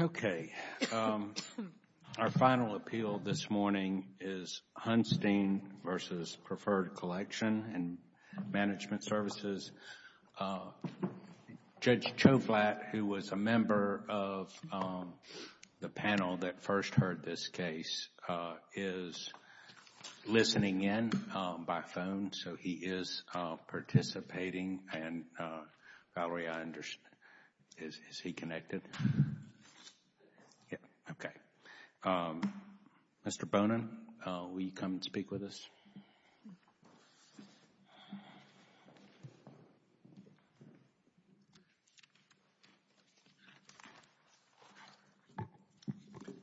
Okay. Our final appeal this morning is Hunstein v. Preferred Collection and Management Services. Judge Chouflat, who was a member of the panel that first heard this case, is listening in by phone, so he is participating, and Valerie, is he connected? Yes. Okay. Mr. Bonin, will you come and speak with us?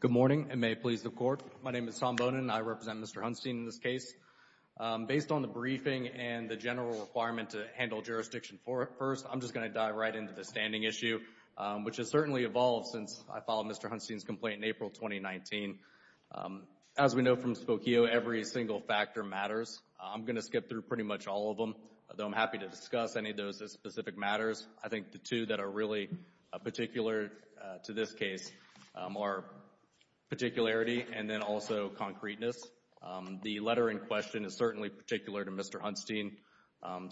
Good morning, and may it please the Court. My name is Tom Bonin. I represent Mr. Hunstein in this case. Based on the briefing and the general requirement to handle jurisdiction first, I'm just going to dive right into the standing issue, which has certainly evolved since I filed Mr. Hunstein's complaint in April 2019. As we know from Spokio, every single factor matters. I'm going to skip through pretty much all of them, though I'm happy to discuss any of those specific matters. I think the two that are really particular to this case are particularity and then also concreteness. The letter in question is certainly particular to Mr. Hunstein,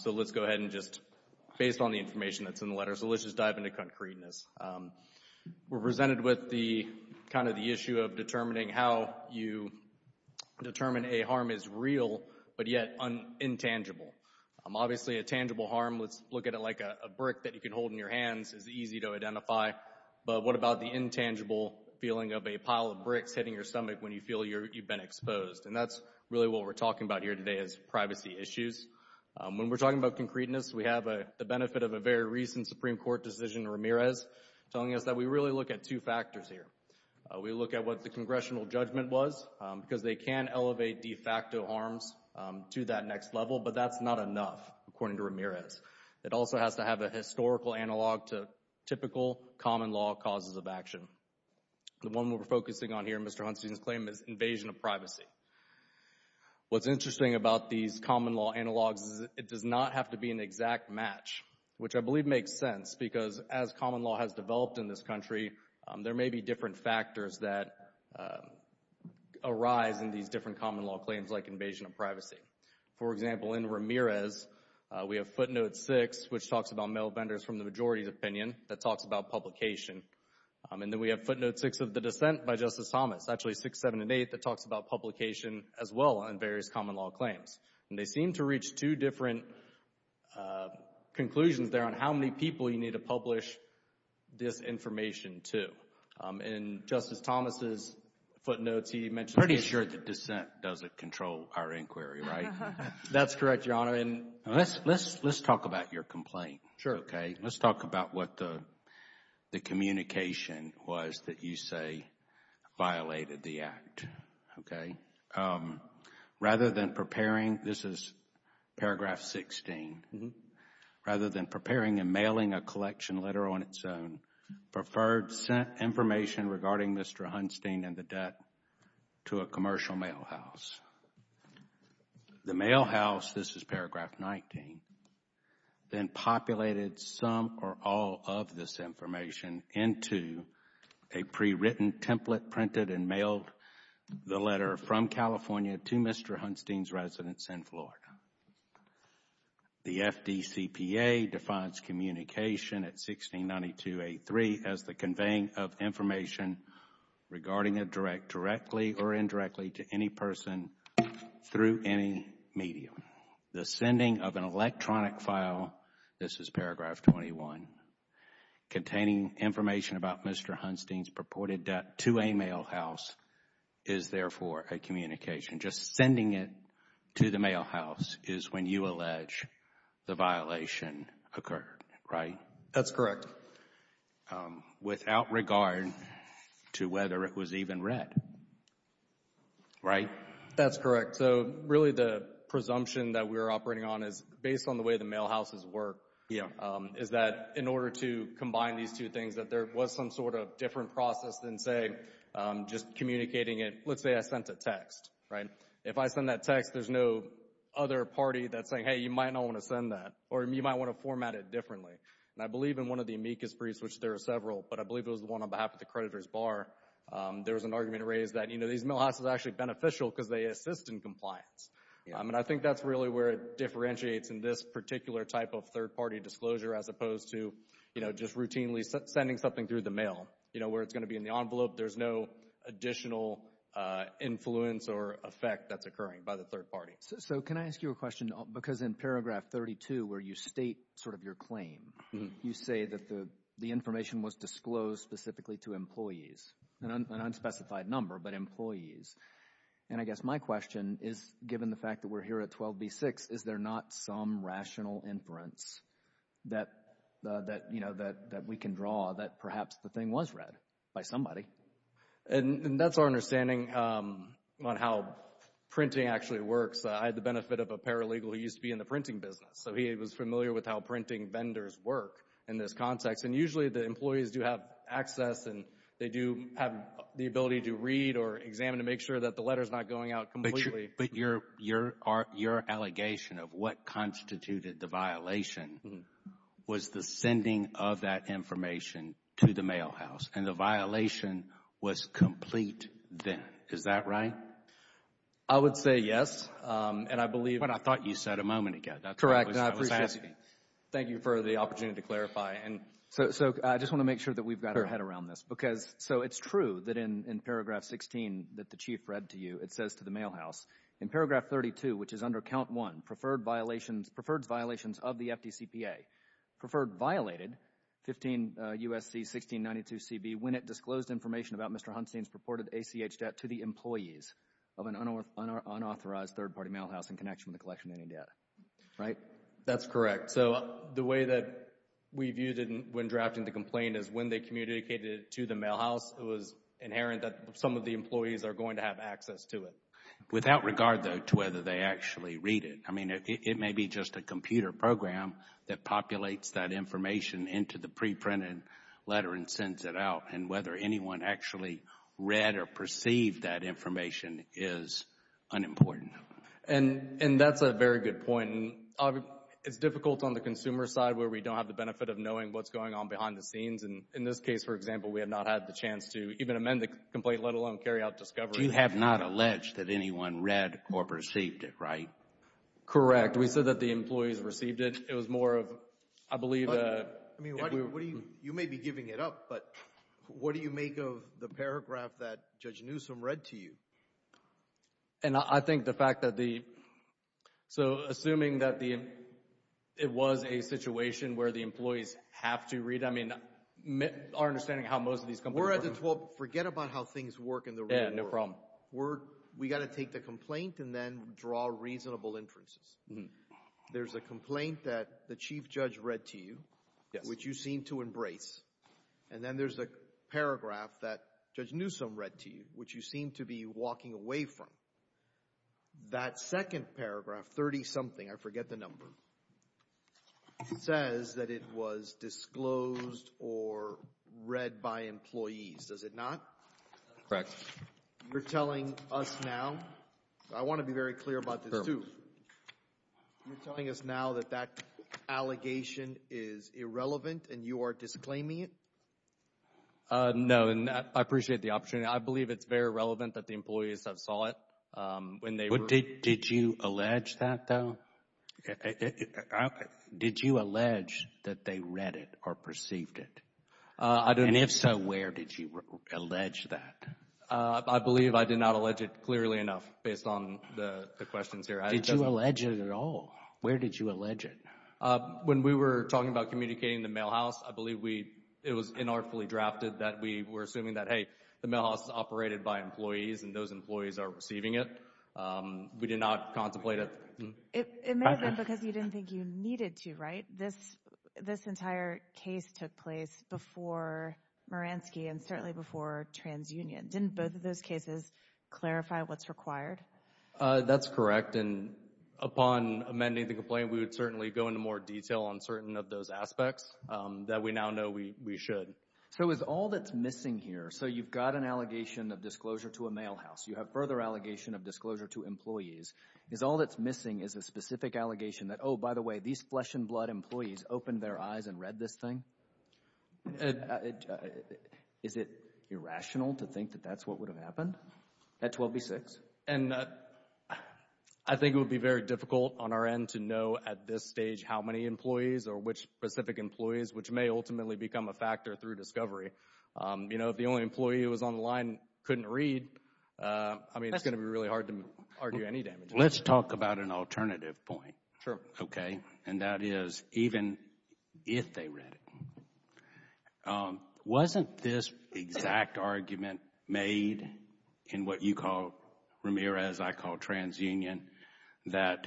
so let's go ahead and just based on the information that's in the letter, so let's just dive into concreteness. We're presented with the, kind of the issue of determining how you determine a harm is real but yet intangible. Obviously a tangible harm, let's look at it like a brick that you can hold in your hands is easy to identify, but what about the intangible feeling of a pile of bricks hitting your stomach when you feel you've been exposed, and that's really what we're talking about here today is privacy issues. When we're talking about concreteness, we have the benefit of a very recent Supreme Court decision, Ramirez, telling us that we really look at two factors here. We look at what the congressional judgment was, because they can elevate de facto harms to that next level, but that's not enough, according to Ramirez. It also has to have a historical analog to typical common law causes of action. The one we're focusing on here, Mr. Hunstein's claim, is invasion of privacy. What's interesting about these common law analogs is it does not have to be an exact match, which I believe makes sense, because as common law has developed in this country, there may be different factors that arise in these different common law claims like invasion of privacy. For example, in Ramirez, we have footnote six, which talks about mail vendors from the majority's opinion, that talks about publication, and then we have footnote six of the dissent by Justice Thomas, actually six, seven, and eight, that talks about publication as well on various common law claims. They seem to reach two different conclusions there on how many people you need to publish this information to. Justice Thomas' footnotes, he mentioned... Pretty sure the dissent doesn't control our inquiry, right? That's correct, Your Honor. Let's talk about your complaint. Let's talk about what the communication was that you say violated the act. Rather than preparing, this is paragraph 16, rather than preparing and mailing a collection letter on its own, preferred sent information regarding Mr. Hunstein and the debt to a commercial mail house. The mail house, this is paragraph 19, then populated some or all of this information into a pre-written template, printed and mailed the letter from California to Mr. Hunstein's residence in Florida. The FDCPA defines communication at 1692A3 as the conveying of information regarding a direct, directly or indirectly, to any person through any medium. The sending of an electronic file, this is paragraph 21, containing information about Mr. Hunstein's purported debt to a mail house is therefore a communication. Just sending it to the mail house is when you allege the violation occurred, right? That's correct. It occurred without regard to whether it was even read, right? That's correct. So, really, the presumption that we're operating on is, based on the way the mail houses work, is that in order to combine these two things, that there was some sort of different process than, say, just communicating it. Let's say I sent a text, right? If I send that text, there's no other party that's saying, hey, you might not want to send that, or you might want to format it differently. And I believe in one of the amicus briefs, which there are several, but I believe it was the one on behalf of the creditor's bar, there was an argument raised that, you know, these mail houses are actually beneficial because they assist in compliance. And I think that's really where it differentiates in this particular type of third-party disclosure as opposed to, you know, just routinely sending something through the mail. You know, where it's going to be in the envelope, there's no additional influence or effect that's occurring by the third party. So can I ask you a question? Because in paragraph 32, where you state sort of your claim, you say that the information was disclosed specifically to employees, an unspecified number, but employees. And I guess my question is, given the fact that we're here at 12b-6, is there not some rational inference that, you know, that we can draw that perhaps the thing was read by somebody? And that's our understanding on how printing actually works. I had the benefit of a paralegal who used to be in the printing business, so he was familiar with how printing vendors work in this context. And usually the employees do have access and they do have the ability to read or examine to make sure that the letter's not going out completely. But your allegation of what constituted the violation was the sending of that information to the mail house, and the violation was complete then. Is that right? I would say yes. And I believe... But I thought you said a moment ago. That's what I was asking. Correct. And I appreciate it. Thank you for the opportunity to clarify. And so I just want to make sure that we've got our head around this. So it's true that in paragraph 16 that the Chief read to you, it says to the mail house, in paragraph 32, which is under count one, preferred violations of the FDCPA, preferred violated 15 U.S.C. 1692CB when it disclosed information about Mr. Hunstein's purported ACH debt to the employees of an unauthorized third-party mail house in connection with the collection of any debt, right? That's correct. So the way that we viewed it when drafting the complaint is when they communicated it to the mail house, it was inherent that some of the employees are going to have access to it. Without regard, though, to whether they actually read it. I mean, it may be just a computer program that populates that information into the pre-printed letter and sends it out. And whether anyone actually read or perceived that information is unimportant. And that's a very good point. It's difficult on the consumer side where we don't have the benefit of knowing what's going on behind the scenes. In this case, for example, we have not had the chance to even amend the complaint, let alone carry out discovery. But you have not alleged that anyone read or perceived it, right? Correct. We said that the employees received it. It was more of, I believe... You may be giving it up, but what do you make of the paragraph that Judge Newsom read to you? And I think the fact that the... So assuming that it was a situation where the employees have to read, I mean, our understanding how most of these companies... We're at the 12th. Forget about how things work in the real world. Yeah, no problem. We got to take the complaint and then draw reasonable inferences. There's a complaint that the Chief Judge read to you, which you seem to embrace. And then there's a paragraph that Judge Newsom read to you, which you seem to be walking away from. That second paragraph, 30-something, I forget the number, says that it was disclosed or read by employees. Does it not? Correct. You're telling us now, I want to be very clear about this too, you're telling us now that that allegation is irrelevant and you are disclaiming it? No, and I appreciate the opportunity. I believe it's very relevant that the employees have saw it when they were... Did you allege that, though? Did you allege that they read it or perceived it? I don't... Did you allege that? I believe I did not allege it clearly enough, based on the questions here. Did you allege it at all? Where did you allege it? When we were talking about communicating the mail house, I believe it was inartfully drafted that we were assuming that, hey, the mail house is operated by employees and those employees are receiving it. We did not contemplate it. It may have been because you didn't think you needed to, right? This entire case took place before Moransky and certainly before TransUnion. Didn't both of those cases clarify what's required? That's correct, and upon amending the complaint, we would certainly go into more detail on certain of those aspects that we now know we should. So is all that's missing here, so you've got an allegation of disclosure to a mail house, you have further allegation of disclosure to employees, is all that's missing is a specific allegation that, oh, by the way, these flesh and blood employees opened their eyes and read this thing? Is it irrational to think that that's what would have happened at 12B6? I think it would be very difficult on our end to know at this stage how many employees or which specific employees, which may ultimately become a factor through discovery. If the only employee who was on the line couldn't read, it's going to be really hard to argue any damage. Let's talk about an alternative point, okay, and that is even if they read it, wasn't this exact argument made in what you call, Ramirez, I call TransUnion, that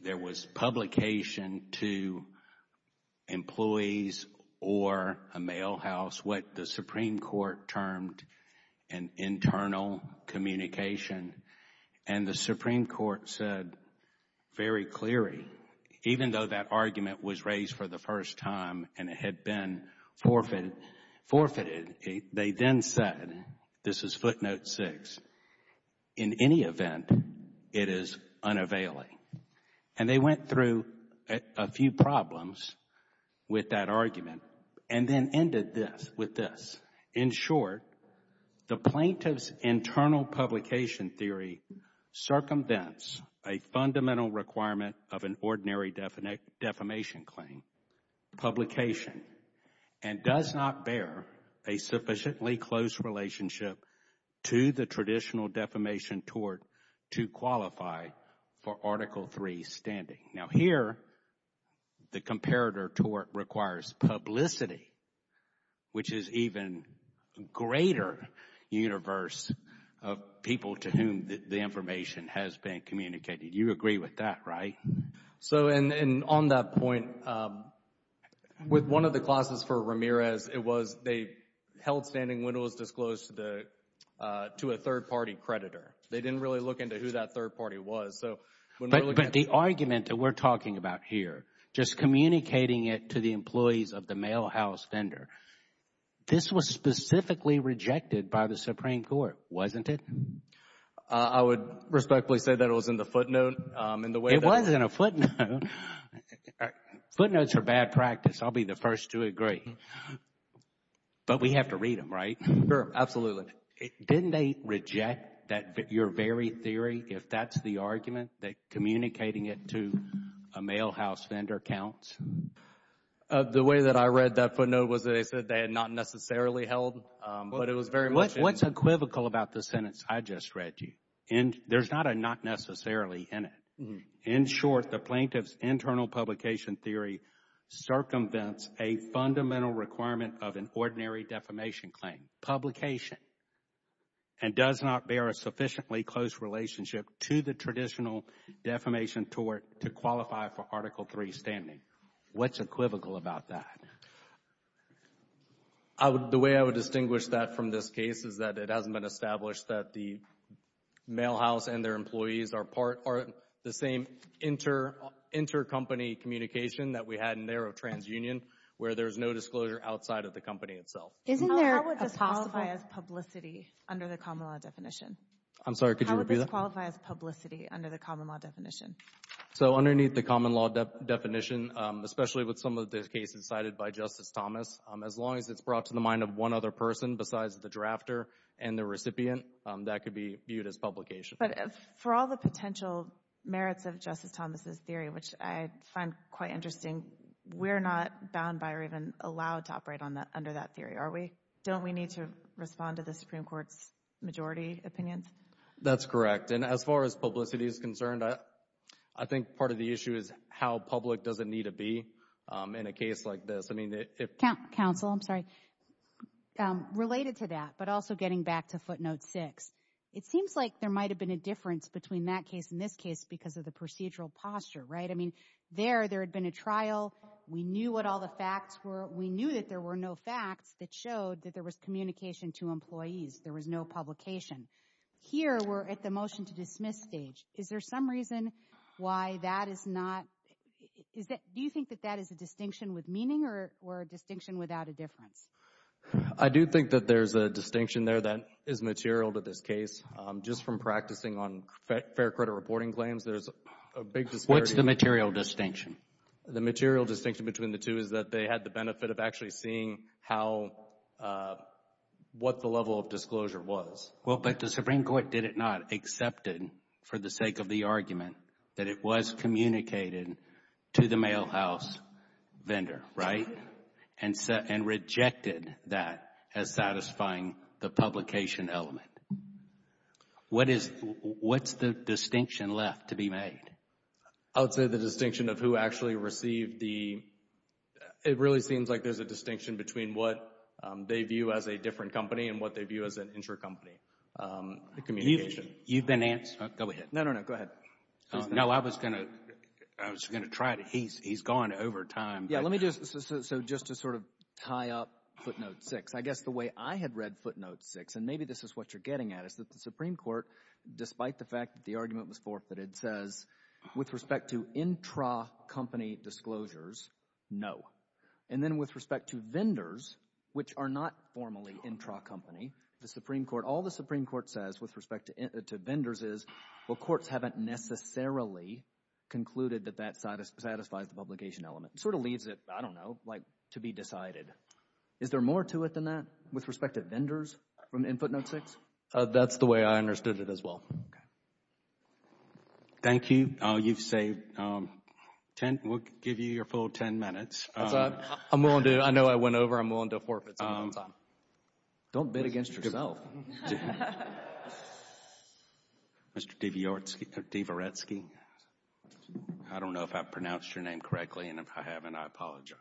there was publication to employees or a mail house, what the Supreme Court termed an internal communication, and the Supreme Court said very clearly, even though that argument was raised for the first time and it had been forfeited, they then said, this is footnote six, in any event, it is unavailing. And they went through a few problems with that argument and then ended with this. In short, the plaintiff's internal publication theory circumvents a fundamental requirement of an ordinary defamation claim, publication, and does not bear a sufficiently close relationship to the traditional defamation tort to qualify for Article III standing. Now here, the comparator tort requires publicity, which is even greater universe of people to whom the information has been communicated. You agree with that, right? So and on that point, with one of the clauses for Ramirez, it was they held standing when it was disclosed to a third party creditor. They didn't really look into who that third party was. But the argument that we're talking about here, just communicating it to the employees of the mail house vendor, this was specifically rejected by the Supreme Court, wasn't it? I would respectfully say that it was in the footnote. It was in a footnote. Footnotes are bad practice. I'll be the first to agree. But we have to read them, right? Absolutely. Didn't they reject that your very theory, if that's the argument, that communicating it to a mail house vendor counts? The way that I read that footnote was that they said they had not necessarily held, but it was very much in. What's equivocal about the sentence I just read to you? There's not a not necessarily in it. In short, the plaintiff's internal publication theory circumvents a fundamental requirement of an ordinary defamation claim, publication, and does not bear a sufficiently close relationship to the traditional defamation tort to qualify for Article III standing. What's equivocal about that? The way I would distinguish that from this case is that it hasn't been established that the mail house and their employees are part, are the same intercompany communication that we had in there of TransUnion, where there's no disclosure outside of the company itself. How would this qualify as publicity under the common law definition? So underneath the common law definition, especially with some of the cases cited by Justice Thomas, as long as it's brought to the mind of one other person besides the drafter and the recipient, that could be viewed as publication. For all the potential merits of Justice Thomas' theory, which I find quite interesting, we're not bound by or even allowed to operate under that theory, are we? Don't we need to respond to the Supreme Court's majority opinions? That's correct. And as far as publicity is concerned, I think part of the issue is how public does it need to be in a case like this. Counsel, I'm sorry. Related to that, but also getting back to footnote six, it seems like there might have been a difference between that case and this case because of the procedural posture, right? I mean, there, there had been a trial. We knew what all the facts were. We knew that there were no facts that showed that there was communication to employees. There was no publication. Here we're at the motion to dismiss stage. Is there some reason why that is not, is that, do you think that that is a distinction with meaning or a distinction without a difference? I do think that there's a distinction there that is material to this case. Just from practicing on fair credit reporting claims, there's a big disparity. What's the material distinction? The material distinction between the two is that they had the benefit of actually seeing how, what the level of disclosure was. Well, but the Supreme Court did it not, accepted, for the sake of the argument, that it was communicated to the mail house vendor, right? And rejected that as satisfying the publication element. What is, what's the distinction left to be made? I would say the distinction of who actually received the, it really seems like there's a distinction between what they view as a different company and what they view as an insurer company, the communication. You've been answered. Go ahead. No, no, no, go ahead. No, I was going to, I was going to try to, he's, he's gone over time. Yeah, let me just, so just to sort of tie up footnote six, I guess the way I had read footnote six, and maybe this is what you're getting at, is that the Supreme Court, despite the fact that the argument was forfeited, says with respect to intra-company disclosures, no. And then with respect to vendors, which are not formally intra-company, the Supreme Court, all the Supreme Court says with respect to vendors is, well, courts haven't necessarily concluded that that satisfies the publication element. It sort of leaves it, I don't know, like to be decided. Is there more to it than that? With respect to vendors in footnote six? That's the way I understood it as well. Thank you. Oh, you've saved ten, we'll give you your full ten minutes. I'm willing to, I know I went over, I'm willing to forfeit some more time. Don't bid against yourself. Mr. Dvoretsky, I don't know if I pronounced your name correctly, and if I haven't, I apologize.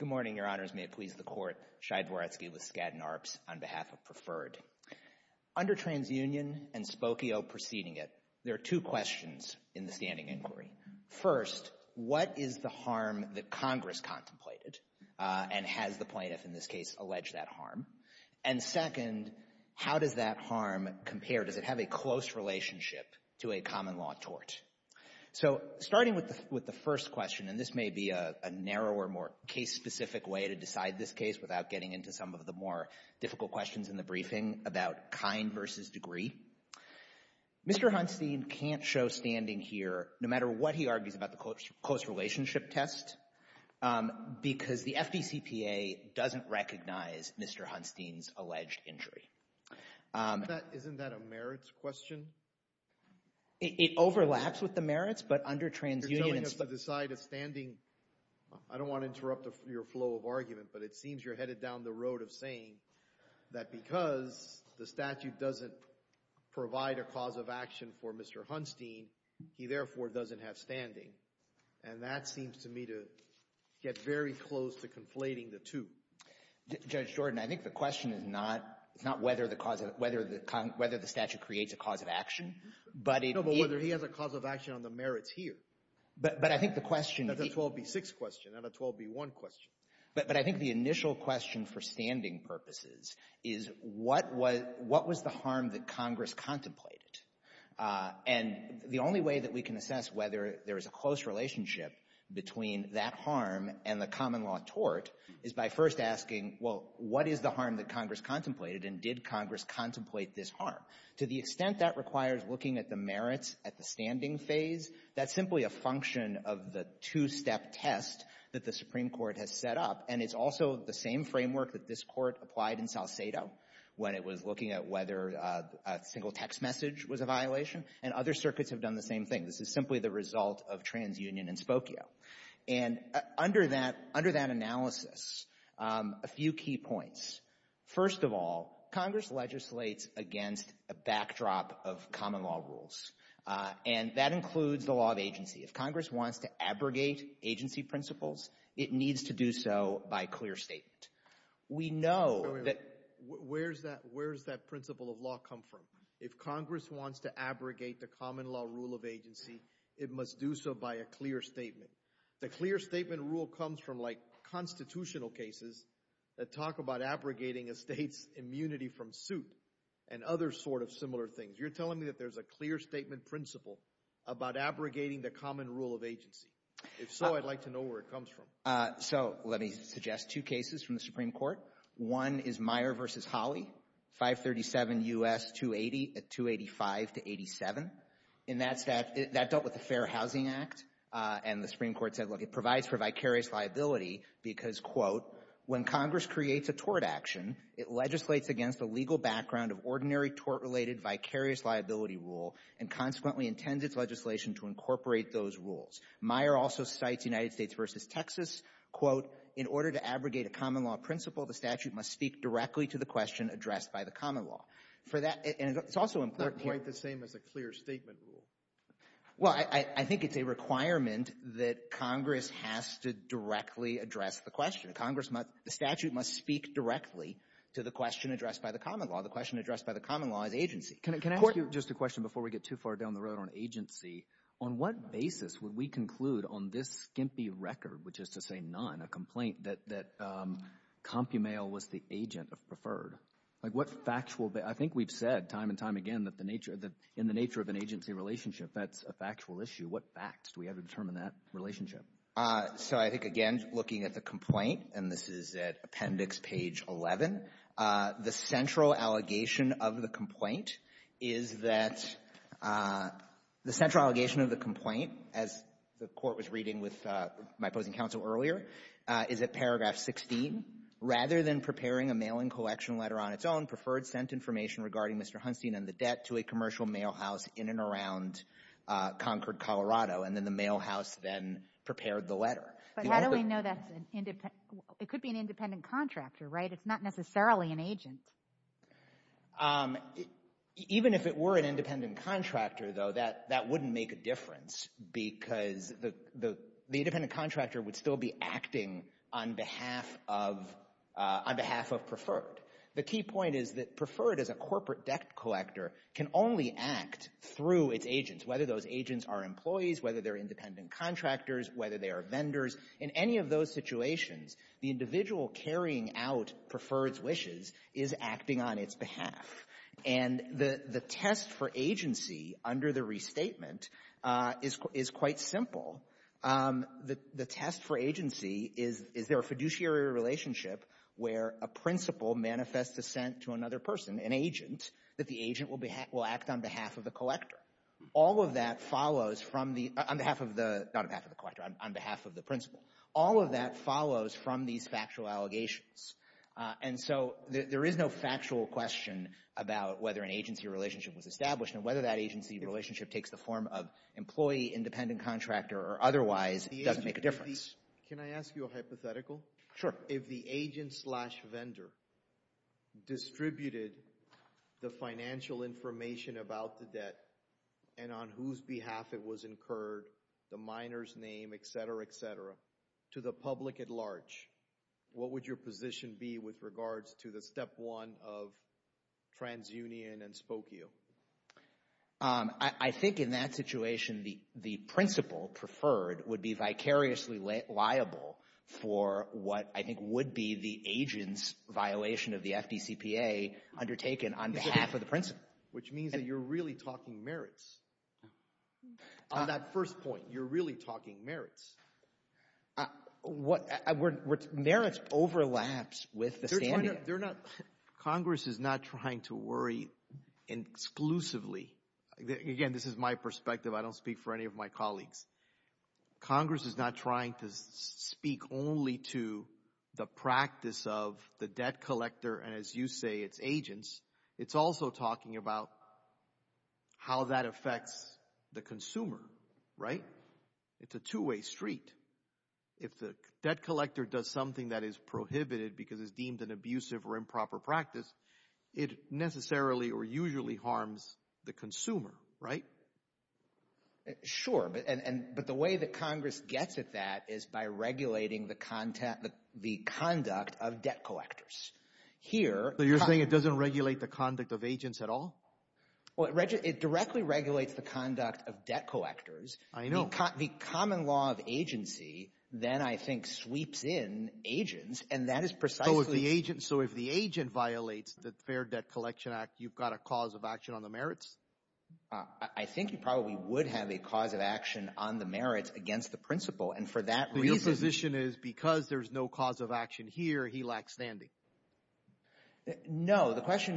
Good morning, Your Honors. May it please the Court. Shai Dvoretsky with Skadden Arps on behalf of Preferred. Under TransUnion and Spokio preceding it, there are two questions in the standing inquiry. First, what is the harm that Congress contemplated, and has the plaintiff in this case alleged that harm? And second, how does that harm compare? Does it have a close relationship to a common-law tort? So starting with the first question, and this may be a narrower, more case-specific way to decide this case without getting into some of the more difficult questions in the briefing about kind versus degree, Mr. Hunstein can't show standing here, no matter what he argues about the close relationship test, because the FDCPA doesn't recognize Mr. Hunstein's alleged injury. Isn't that a merits question? It overlaps with the merits, but under TransUnion and Spokio... You're telling us to decide a standing... I don't want to interrupt your flow of argument, but it seems you're headed down the road of saying that because the statute doesn't provide a cause of action for Mr. Hunstein, he therefore doesn't have standing. And that seems to me to get very close to conflating the two. Judge Jordan, I think the question is not whether the statute creates a cause of action, but it... No, but whether he has a cause of action on the merits here. But I think the question... That's a 12B6 question, not a 12B1 question. But I think the initial question for standing purposes is what was the harm that Congress contemplated? And the only way that we can assess whether there is a close relationship between that harm and the common law tort is by first asking, well, what is the harm that Congress contemplated, and did Congress contemplate this harm? To the extent that requires looking at the merits at the standing phase, that's simply a function of the two-step test that the Supreme Court has set up. And it's also the same framework that this Court applied in Salcedo when it was looking at whether a single text message was a violation. And other circuits have done the same thing. This is simply the result of TransUnion and Spokio. And under that analysis, a few key points. First of all, Congress legislates against a backdrop of common law rules. And that includes the law of agency. If Congress wants to abrogate agency principles, it needs to do so by clear statement. We know that... law come from. If Congress wants to abrogate the common law rule of agency, it must do so by a clear statement. The clear statement rule comes from, like, constitutional cases that talk about abrogating a state's immunity from suit and other sort of similar things. You're telling me that there's a clear statement principle about abrogating the common rule of agency? If so, I'd like to know where it comes from. So let me suggest two cases from the Supreme Court. One is Meyer v. Holly, 537 U.S. 280 at 285 to 87. And that dealt with the Fair Housing Act. And the Supreme Court said, look, it provides for vicarious liability because, quote, when Congress creates a tort action, it legislates against a legal background of ordinary tort-related vicarious liability rule and consequently intends its legislation to incorporate those rules. Meyer also cites United States v. Texas, quote, in order to abrogate a common law principle, the statute must speak directly to the question addressed by the common law. For that, and it's also important to you — It's not quite the same as a clear statement rule. Well, I think it's a requirement that Congress has to directly address the question. Congress must — the statute must speak directly to the question addressed by the common law. The question addressed by the common law is agency. Can I ask you just a question before we get too far down the road on agency? On what basis would we conclude on this skimpy record, which is to say none, a complaint that CompuMail was the agent of Preferred? Like, what factual — I think we've said time and time again that the nature — that in the nature of an agency relationship, that's a factual issue. What facts do we have to determine that relationship? So I think, again, looking at the complaint, and this is at Appendix Page 11, the central allegation of the complaint is that — the central allegation of the complaint, as the Court was reading with my opposing counsel earlier, is at Paragraph 16. Rather than preparing a mailing collection letter on its own, Preferred sent information regarding Mr. Hunstein and the debt to a commercial mail house in and around Concord, Colorado, and then the mail house then prepared the letter. But how do we know that's an — it could be an independent contractor, right? It's not necessarily an agent. Even if it were an independent contractor, though, that wouldn't make a difference. Because the independent contractor would still be acting on behalf of — on behalf of Preferred. The key point is that Preferred, as a corporate debt collector, can only act through its agents, whether those agents are employees, whether they're independent contractors, whether they are vendors. In any of those situations, the individual carrying out Preferred's wishes is acting on its behalf. And the test for agency, under the restatement, is quite simple. The test for agency is, is there a fiduciary relationship where a principal manifests dissent to another person, an agent, that the agent will act on behalf of the collector? All of that follows from the — on behalf of the — not on behalf of the collector, on behalf of the principal. All of that follows from these factual allegations. And so there is no factual question about whether an agency relationship was established. And whether that agency relationship takes the form of employee, independent contractor, or otherwise doesn't make a difference. Can I ask you a hypothetical? Sure. If the agent-slash-vendor distributed the financial information about the debt and on whose behalf it was incurred, the miner's name, et cetera, et cetera, to the public at large, what would your position be with regards to the step one of transunion and spokio? I think in that situation, the principal, Preferred, would be vicariously liable for what I think would be the agent's violation of the FDCPA undertaken on behalf of the principal. Which means that you're really talking merits. On that first point, you're really talking merits. Ah, what, I, we're, merits overlaps with the standard. They're not, Congress is not trying to worry exclusively, again, this is my perspective, I don't speak for any of my colleagues. Congress is not trying to speak only to the practice of the debt collector and, as you say, its agents. It's also talking about how that affects the consumer, right? It's a two-way street. If the debt collector does something that is prohibited because it's deemed an abusive or improper practice, it necessarily or usually harms the consumer, right? Sure, but the way that Congress gets at that is by regulating the conduct of debt collectors. Here... So you're saying it doesn't regulate the conduct of agents at all? Well, it directly regulates the conduct of debt collectors. I know. The common law of agency then, I think, sweeps in agents, and that is precisely... So if the agent, so if the agent violates the Fair Debt Collection Act, you've got a cause of action on the merits? I think you probably would have a cause of action on the merits against the principal, and for that reason... The opposition is because there's no cause of action here, he lacks standing. The question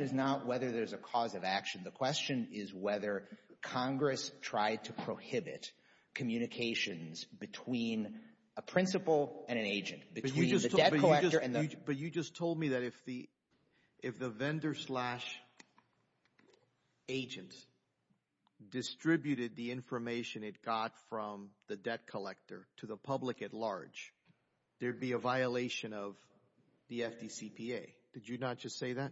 is whether Congress tried to prohibit communications between a principal and an agent, between the debt collector and the... But you just told me that if the vendor slash agent distributed the information it got from the debt collector to the public at large, there'd be a violation of the FDCPA. Did you not just say that?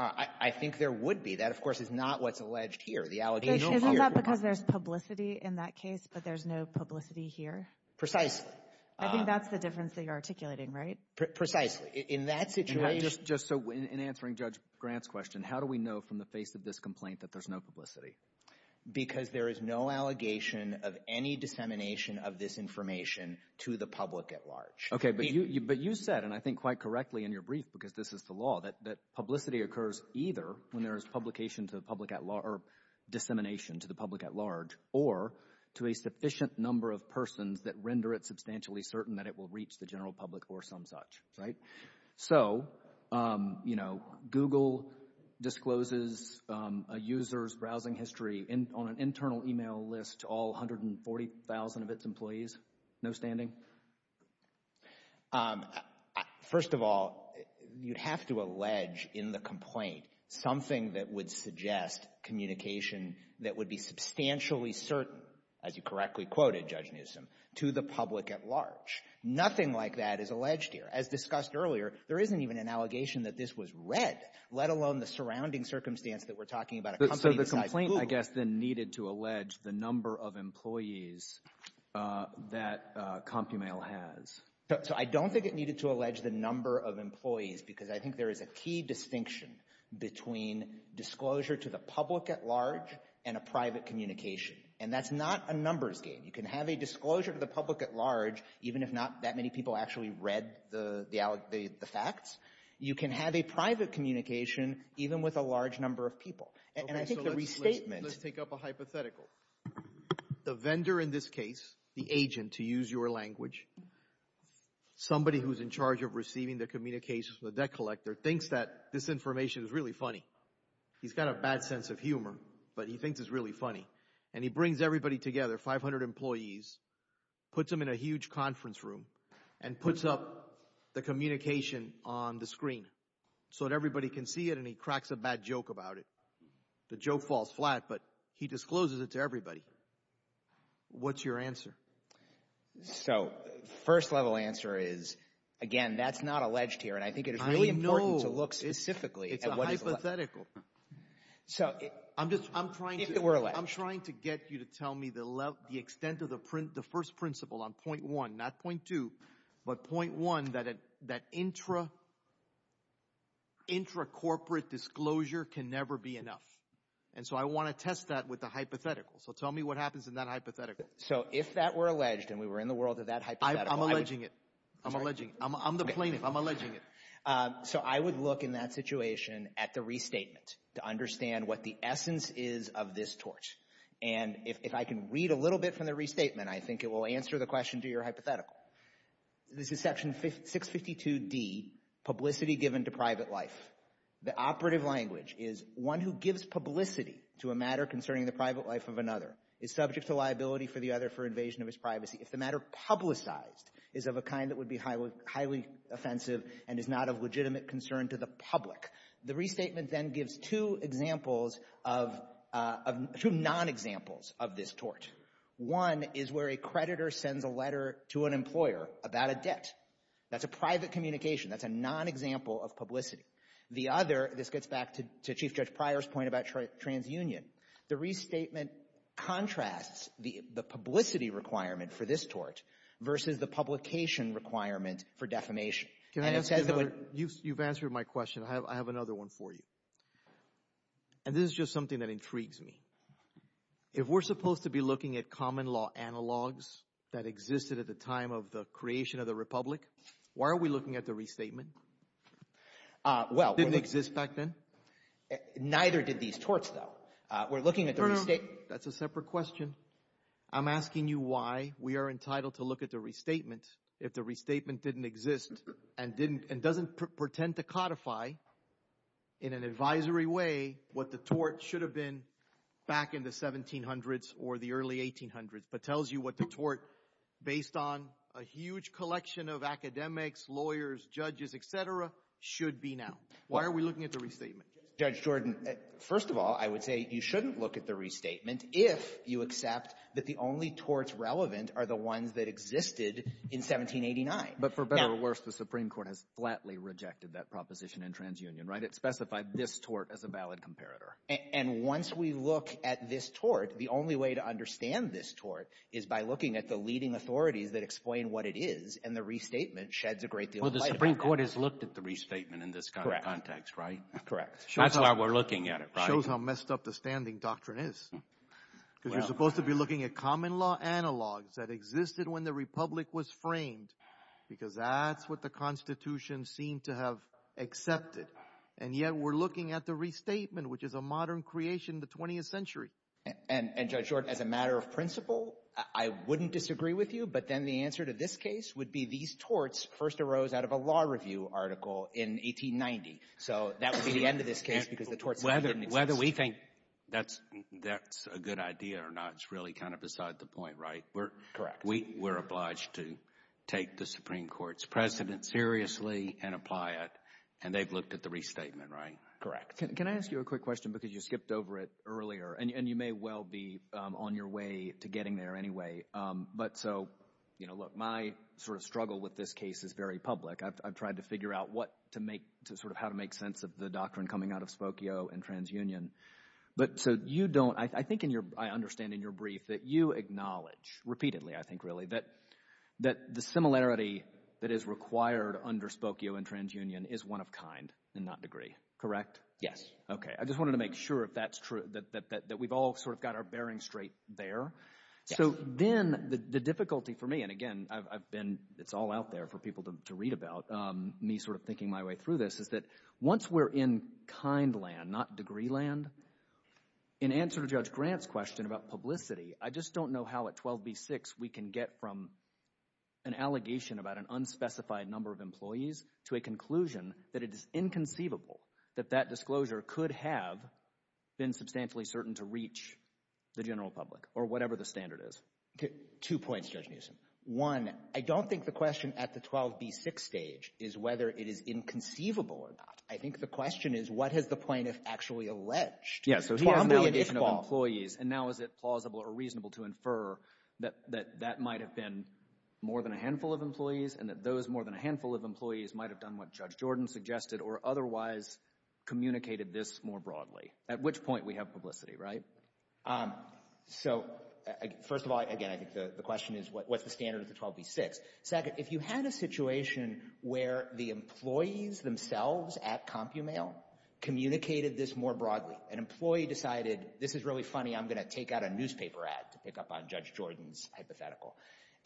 I think there would be. That, of course, is not what's alleged here. The allegation... Isn't that because there's publicity in that case, but there's no publicity here? Precisely. I think that's the difference that you're articulating, right? Precisely. In that situation... Just so, in answering Judge Grant's question, how do we know from the face of this complaint that there's no publicity? Because there is no allegation of any dissemination of this information to the public at large. Okay, but you said, and I think quite correctly in your brief, because this is the law, that there is dissemination to the public at large or to a sufficient number of persons that render it substantially certain that it will reach the general public or some such, right? So, you know, Google discloses a user's browsing history on an internal email list to all 140,000 of its employees, no standing? First of all, you'd have to allege in the complaint something that would suggest communication that would be substantially certain, as you correctly quoted, Judge Newsom, to the public at large. Nothing like that is alleged here. As discussed earlier, there isn't even an allegation that this was read, let alone the surrounding circumstance that we're talking about, a company besides Google. So the complaint, I guess, then needed to allege the number of employees that companies like CompuMail has. So I don't think it needed to allege the number of employees, because I think there is a key distinction between disclosure to the public at large and a private communication. And that's not a numbers game. You can have a disclosure to the public at large, even if not that many people actually read the facts. You can have a private communication, even with a large number of people. And I think the restatement Let's take up a hypothetical. The vendor in this case, the agent, to use your language, somebody who's in charge of receiving the communications from the debt collector, thinks that this information is really funny. He's got a bad sense of humor, but he thinks it's really funny. And he brings everybody together, 500 employees, puts them in a huge conference room, and puts up the communication on the screen so that everybody can see it, and he cracks a bad joke about it. The joke falls flat, but he discloses it to everybody. What's your answer? So first level answer is, again, that's not alleged here. And I think it is really important to look specifically at what is alleged. It's a hypothetical. So I'm trying to get you to tell me the extent of the first principle on point one, not point two, but point one, that intracorporate disclosure can never be enough. And so I want to test that with a hypothetical. So tell me what happens in that hypothetical. So if that were alleged, and we were in the world of that hypothetical. I'm alleging it. I'm alleging it. I'm the plaintiff. I'm alleging it. So I would look in that situation at the restatement to understand what the essence is of this tort. And if I can read a little bit from the restatement, I think it will answer the question, to your hypothetical. This is section 652D, publicity given to private life. The operative language is, one who gives publicity to a matter concerning the private life of another is subject to liability for the other for invasion of his privacy. If the matter publicized is of a kind that would be highly offensive and is not of legitimate concern to the public, the restatement then gives two examples of, two non-examples of this tort. One is where a creditor sends a letter to an employer about a debt. That's a private communication. That's a non-example of publicity. The other, this gets back to Chief Judge Pryor's point about transunion. The restatement contrasts the publicity requirement for this tort versus the publication requirement for defamation. And it says that when you've answered my question, I have another one for you. And this is just something that intrigues me. If we're supposed to be looking at common law analogs that existed at the time of the creation of the republic, why are we looking at the restatement? Well, it didn't exist back then. Neither did these torts though. We're looking at the restatement. That's a separate question. I'm asking you why we are entitled to look at the restatement if the restatement didn't exist and didn't, and doesn't pretend to codify in an advisory way what the tort should have been back in the 1700s or the early 1800s, but tells you what the tort based on a huge collection of academics, lawyers, judges, et cetera, should be now. Why are we looking at the restatement? Judge Jordan, first of all, I would say you shouldn't look at the restatement if you accept that the only torts relevant are the ones that existed in 1789. But for better or worse, the Supreme Court has flatly rejected that proposition in transunion, right? It specified this tort as a valid comparator. And once we look at this tort, the only way to understand this tort is by looking at the leading authorities that explain what it is, and the restatement sheds a great deal of light on that. Well, the Supreme Court has looked at the restatement in this kind of context, right? Correct. That's why we're looking at it, right? Shows how messed up the standing doctrine is. Because you're supposed to be looking at common law analogs that existed when the Republic was framed, because that's what the Constitution seemed to have accepted. And yet we're looking at the restatement, which is a modern creation of the 20th century. And Judge Jordan, as a matter of principle, I wouldn't disagree with you. But then the answer to this case would be these torts first arose out of a law review article in 1890. So that would be the end of this case because the torts didn't exist. Whether we think that's a good idea or not, it's really kind of beside the point, right? Correct. We're obliged to take the Supreme Court's precedent seriously and apply it. And they've looked at the restatement, right? Correct. Can I ask you a quick question? Because you skipped over it earlier. And you may well be on your way to getting there anyway. But so, you know, look, my sort of struggle with this case is very public. I've tried to figure out what to make, sort of how to make sense of the doctrine coming out of Spokio and TransUnion. But so you don't, I think in your, I understand in your brief that you acknowledge, repeatedly, I think really, that the similarity that is required under Spokio and TransUnion is one of kind and not degree, correct? Yes. Okay. I just wanted to make sure if that's true, that we've all sort of got our bearing straight there. So then the difficulty for me, and again, I've been, it's all out there for people to read about, me sort of thinking my way through this, is that once we're in kind land, not degree land, in answer to Judge Grant's question about publicity, I just don't know how at an allegation about an unspecified number of employees to a conclusion that it is inconceivable that that disclosure could have been substantially certain to reach the general public, or whatever the standard is. Two points, Judge Newsom. One, I don't think the question at the 12B6 stage is whether it is inconceivable or not. I think the question is what has the plaintiff actually alleged? Yes, so he has now an indication of employees, and now is it plausible or reasonable to infer that that might have been more than a handful of employees, and that those more than a handful of employees might have done what Judge Jordan suggested, or otherwise communicated this more broadly? At which point we have publicity, right? So first of all, again, I think the question is what's the standard at the 12B6? Second, if you had a situation where the employees themselves at CompuMail communicated this more broadly, an employee decided, this is really funny, I'm going to take out a Judge Jordan's hypothetical.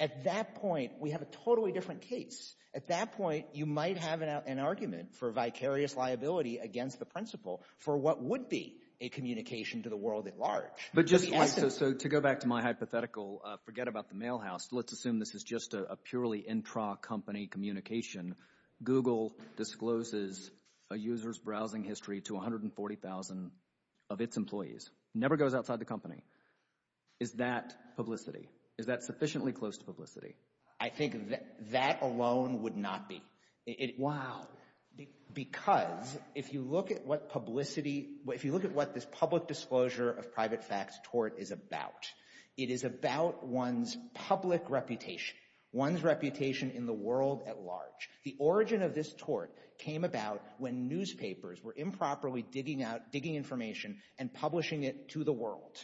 At that point, we have a totally different case. At that point, you might have an argument for vicarious liability against the principle for what would be a communication to the world at large. But just like, so to go back to my hypothetical, forget about the mail house. Let's assume this is just a purely intra-company communication. Google discloses a user's browsing history to 140,000 of its employees. Never goes outside the company. Is that publicity? Is that sufficiently close to publicity? I think that alone would not be. Wow. Because if you look at what publicity, if you look at what this public disclosure of private facts tort is about, it is about one's public reputation, one's reputation in the world at large. The origin of this tort came about when newspapers were improperly digging out, digging information and publishing it to the world.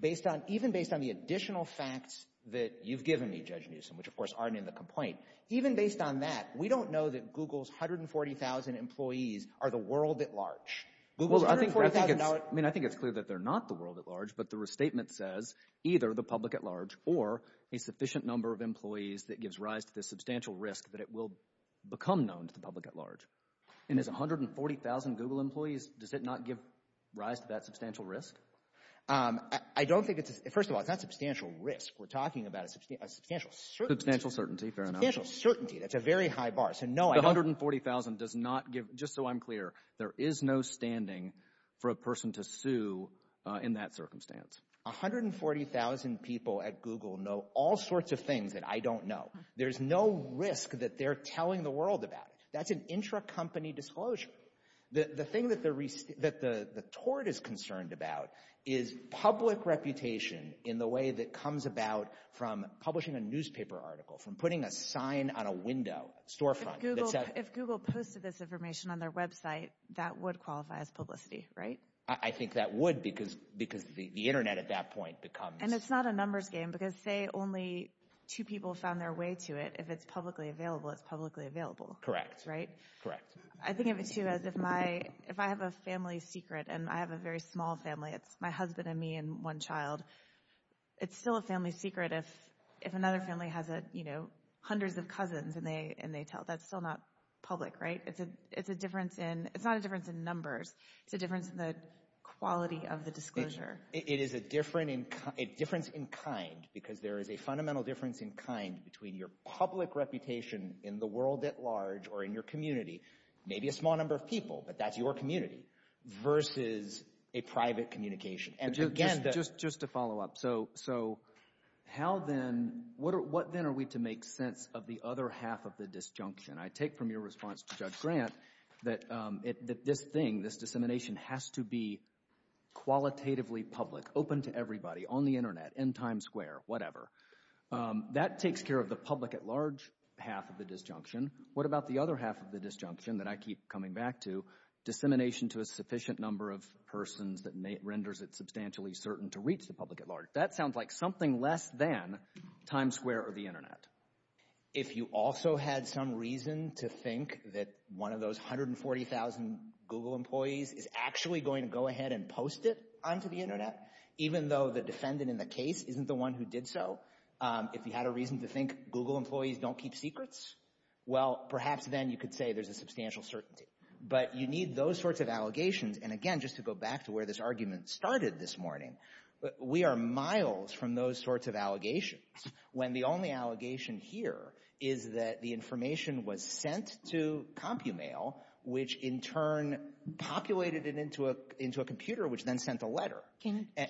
Based on, even based on the additional facts that you've given me, Judge Newsom, which of course aren't in the complaint, even based on that, we don't know that Google's 140,000 employees are the world at large. Google's $140,000. I mean, I think it's clear that they're not the world at large, but the restatement says either the public at large or a sufficient number of employees that gives rise to this substantial risk that it will become known to the public at large. And as 140,000 Google employees, does it not give rise to that substantial risk? I don't think it's, first of all, it's not substantial risk. We're talking about a substantial, substantial certainty, substantial certainty. That's a very high bar. So no, 140,000 does not give, just so I'm clear, there is no standing for a person to sue in that circumstance. 140,000 people at Google know all sorts of things that I don't know. There's no risk that they're telling the world about it. That's an intracompany disclosure. The thing that the tort is concerned about is public reputation in the way that comes about from publishing a newspaper article, from putting a sign on a window, storefront. If Google posted this information on their website, that would qualify as publicity, right? I think that would because the internet at that point becomes. And it's not a numbers game because say only two people found their way to it. If it's publicly available, it's publicly available. Correct. Right? Correct. I think of it too as if I have a family secret and I have a very small family. It's my husband and me and one child. It's still a family secret if another family has hundreds of cousins and they tell. That's still not public, right? It's not a difference in numbers. It's a difference in the quality of the disclosure. It is a difference in kind because there is a fundamental difference in kind between your maybe a small number of people, but that's your community versus a private communication. And again, just to follow up. So how then, what then are we to make sense of the other half of the disjunction? I take from your response to Judge Grant that this thing, this dissemination has to be qualitatively public, open to everybody, on the internet, in Times Square, whatever. That takes care of the public at large half of the disjunction. What about the other half of the disjunction that I keep coming back to? Dissemination to a sufficient number of persons that renders it substantially certain to reach the public at large. That sounds like something less than Times Square or the internet. If you also had some reason to think that one of those 140,000 Google employees is actually going to go ahead and post it onto the internet, even though the defendant in the case isn't the one who did so, if you had a reason to think Google employees don't keep secrets, well, perhaps then you could say there's a substantial certainty. But you need those sorts of allegations. And again, just to go back to where this argument started this morning, we are miles from those sorts of allegations, when the only allegation here is that the information was sent to Compumail, which in turn populated it into a computer, which then sent a letter.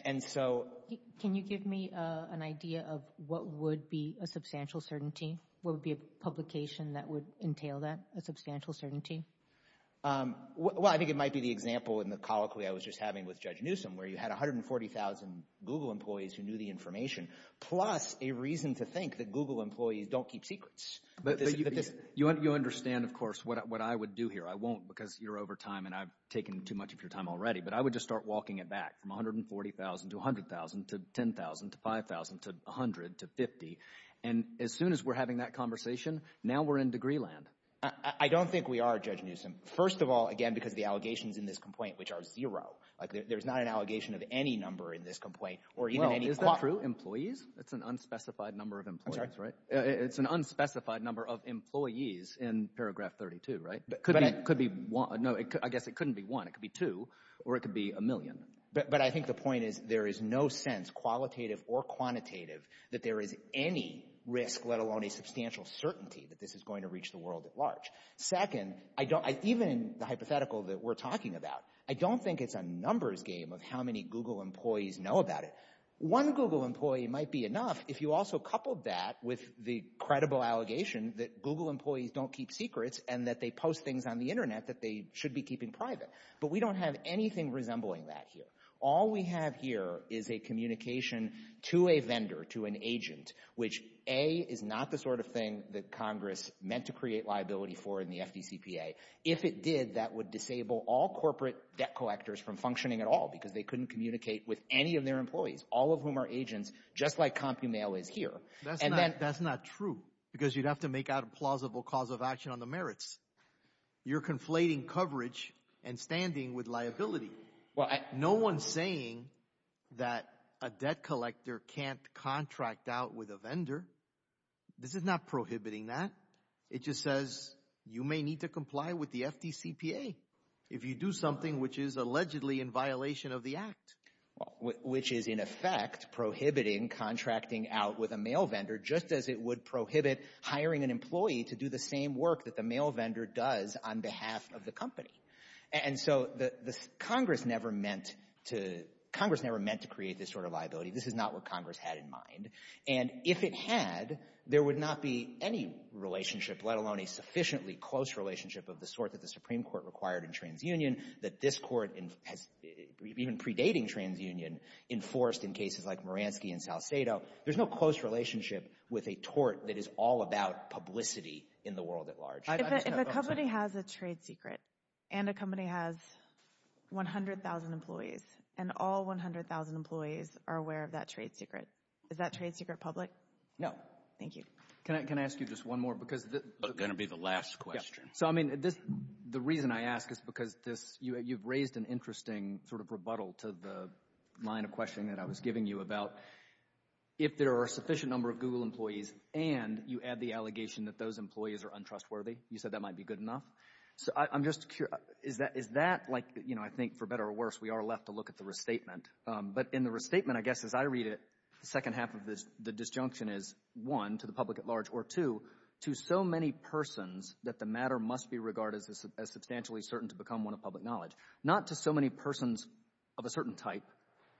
And so... Can you give me an idea of what would be a substantial certainty? What would be a publication that would entail that substantial certainty? Well, I think it might be the example in the colloquy I was just having with Judge Newsom, where you had 140,000 Google employees who knew the information, plus a reason to think that Google employees don't keep secrets. But you understand, of course, what I would do here. I won't because you're over time and I've taken too much of your time already. But I would just start walking it back from 140,000 to 100,000 to 10,000 to 5,000 to 100 to 50. And as soon as we're having that conversation, now we're in degree land. I don't think we are, Judge Newsom. First of all, again, because the allegations in this complaint, which are zero, like there's not an allegation of any number in this complaint or even any... Is that true? Employees? It's an unspecified number of employees, right? It's an unspecified number of employees in paragraph 32, right? But it could be one. No, I guess it couldn't be one. It could be two or it could be a million. But I think the point is there is no sense, qualitative or quantitative, that there is any risk, let alone a substantial certainty that this is going to reach the world at large. Second, even in the hypothetical that we're talking about, I don't think it's a numbers game of how many Google employees know about it. One Google employee might be enough if you also coupled that with the credible allegation that Google employees don't keep secrets and that they post things on the internet that they should be keeping private. But we don't have anything resembling that here. All we have here is a communication to a vendor, to an agent, which A, is not the sort of thing that Congress meant to create liability for in the FDCPA. If it did, that would disable all corporate debt collectors from functioning at all because they couldn't communicate with any of their employees, all of whom are agents, just like CompuMail is here. That's not true because you'd have to make out a plausible cause of action on the merits. You're conflating coverage and standing with liability. No one's saying that a debt collector can't contract out with a vendor. This is not prohibiting that. It just says you may need to comply with the FDCPA if you do something which is allegedly in violation of the Act. Which is, in effect, prohibiting contracting out with a mail vendor, just as it would prohibit hiring an employee to do the same work that the mail vendor does on behalf of the company. And so Congress never meant to create this sort of liability. This is not what Congress had in mind. And if it had, there would not be any relationship, let alone a sufficiently close relationship of the sort that the Supreme Court required in TransUnion, that this Court, even predating TransUnion, enforced in cases like Moransky and Salcedo. There's no close relationship with a tort that is all about publicity in the world at large. If a company has a trade secret, and a company has 100,000 employees, and all 100,000 employees are aware of that trade secret, is that trade secret public? No. Thank you. Can I ask you just one more? It's going to be the last question. So, I mean, the reason I ask is because you've raised an interesting sort of rebuttal to the line of questioning that I was giving you about if there are a sufficient number of Google employees, and you add the allegation that those employees are untrustworthy. You said that might be good enough. So I'm just curious, is that like, you know, I think for better or worse, we are left to look at the restatement. But in the restatement, I guess, as I read it, the second half of the disjunction is, one, to the public at large, or two, to so many persons that the matter must be regarded as substantially certain to become one of public knowledge. Not to so many persons of a certain type,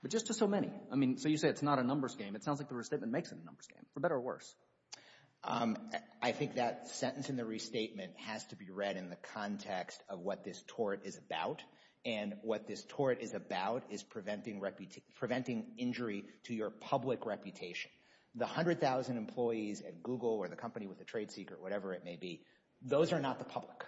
but just to so many. I mean, so you say it's not a numbers game. It sounds like the restatement makes it a numbers game, for better or worse. I think that sentence in the restatement has to be read in the context of what this tort is about. And what this tort is about is preventing injury to your public reputation. The 100,000 employees at Google or the company with the trade secret, whatever it may be, those are not the public.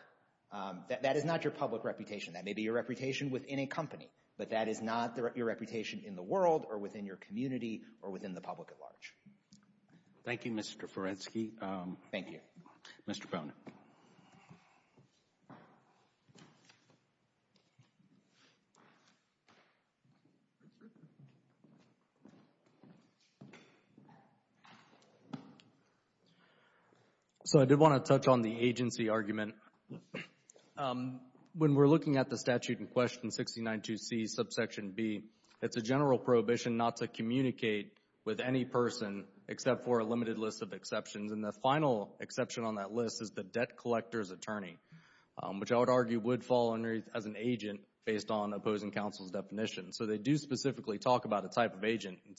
That is not your public reputation. That may be your reputation within a company, but that is not your reputation in the world or within your community or within the public at large. Thank you, Mr. Ferenczky. Thank you. Mr. Bowne. So I did want to touch on the agency argument. And when we're looking at the statute in question 69-2C, subsection B, it's a general prohibition not to communicate with any person except for a limited list of exceptions. And the final exception on that list is the debt collector's attorney, which I would argue would fall under as an agent based on opposing counsel's definition. So they do specifically talk about a type of agent and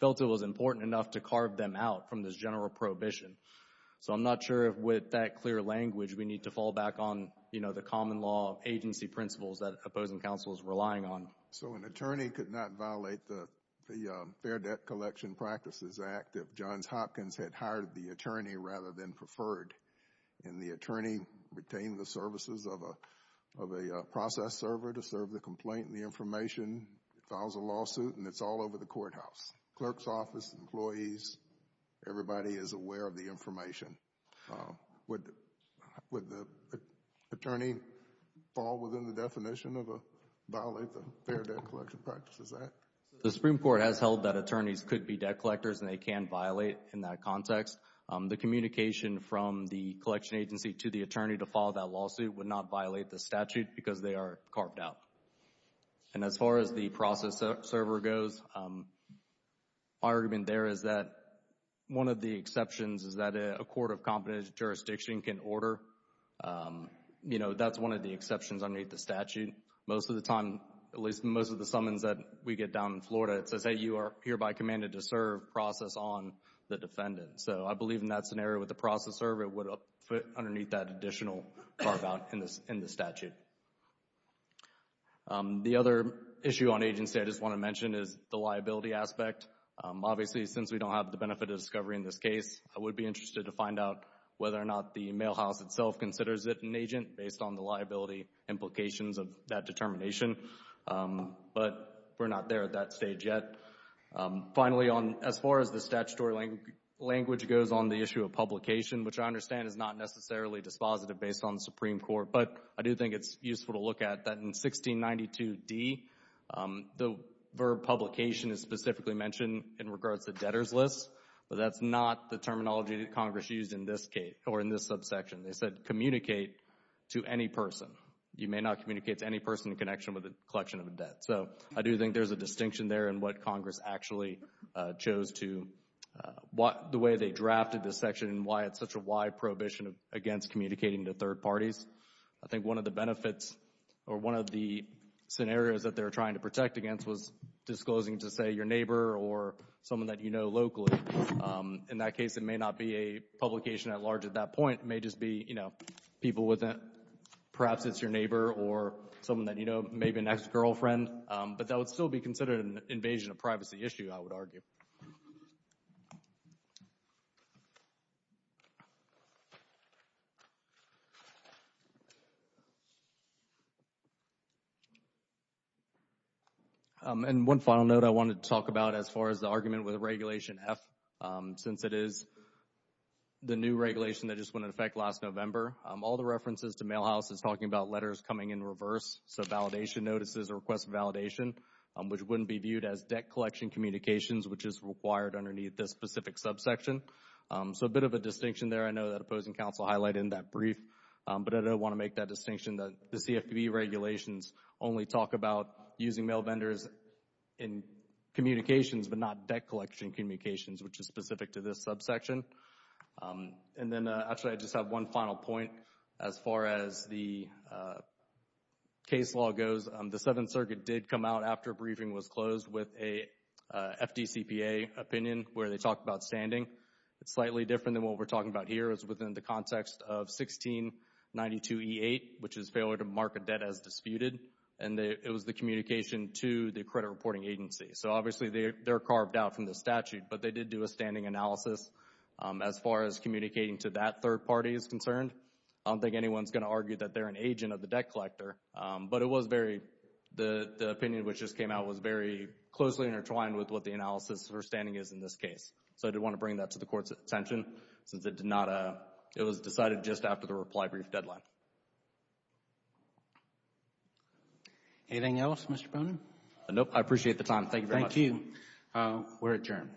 felt it was important enough to carve them out from this general prohibition. So I'm not sure if with that clear language we need to fall back on, you know, the common law agency principles that opposing counsel is relying on. So an attorney could not violate the Fair Debt Collection Practices Act if Johns Hopkins had hired the attorney rather than preferred. And the attorney retained the services of a process server to serve the complaint and the information, files a lawsuit, and it's all over the courthouse. Clerk's office, employees, everybody is aware of the information. Would the attorney fall within the definition of a violate the Fair Debt Collection Practices Act? The Supreme Court has held that attorneys could be debt collectors and they can violate in that context. The communication from the collection agency to the attorney to file that lawsuit would not violate the statute because they are carved out. And as far as the process server goes, my argument there is that one of the exceptions is that a court of competent jurisdiction can order, you know, that's one of the exceptions underneath the statute. Most of the time, at least most of the summons that we get down in Florida, it says that you are hereby commanded to serve process on the defendant. So I believe in that scenario with the process server, it would fit underneath that additional carve out in the statute. The other issue on agency I just want to mention is the liability aspect. Obviously, since we don't have the benefit of discovery in this case, I would be interested to find out whether or not the mail house itself considers it an agent based on the liability implications of that determination. But we're not there at that stage yet. Finally, as far as the statutory language goes on the issue of publication, which I understand is not necessarily dispositive based on the Supreme Court, but I do think it's useful to look at that in 1692d, the verb publication is specifically mentioned in regards to debtor's list, but that's not the terminology that Congress used in this case or in this subsection. They said communicate to any person. You may not communicate to any person in connection with the collection of a debt. So I do think there's a distinction there in what Congress actually chose to, the way they drafted this section and why it's such a wide prohibition against communicating to third parties. I think one of the benefits or one of the scenarios that they're trying to protect against was disclosing to, say, your neighbor or someone that you know locally. In that case, it may not be a publication at large at that point. It may just be, you know, people with a, perhaps it's your neighbor or someone that you know, maybe an ex-girlfriend, but that would still be considered an invasion of privacy issue, I would argue. And one final note I wanted to talk about as far as the argument with Regulation F, since it is the new regulation that just went into effect last November. All the references to mail house is talking about letters coming in reverse, so validation notices or request validation, which wouldn't be viewed as debt collection communications, which is required underneath this specific subsection. So a bit of a distinction there. I know that opposing counsel highlighted in that brief, but I did want to make that distinction that the CFPB regulations only talk about using mail vendors in communications, but not debt collection communications, which is specific to this subsection. And then, actually, I just have one final point as far as the case law goes. The Seventh Circuit did come out after a briefing was closed with a FDCPA opinion where they talked about standing. It's slightly different than what we're talking about here. It's within the context of 1692E8, which is failure to mark a debt as disputed, and it was the communication to the credit reporting agency. So, obviously, they're carved out from the statute, but they did do a standing analysis as far as communicating to that third party is concerned. I don't think anyone's going to argue that they're an agent of the debt collector, but it was very, the opinion which just came out was very closely intertwined with what the analysis for standing is in this case. So I did want to bring that to the Court's attention, since it did not, it was decided just after the reply brief deadline. Anything else, Mr. Boehner? Nope. I appreciate the time. Thank you very much. Thank you. We're adjourned.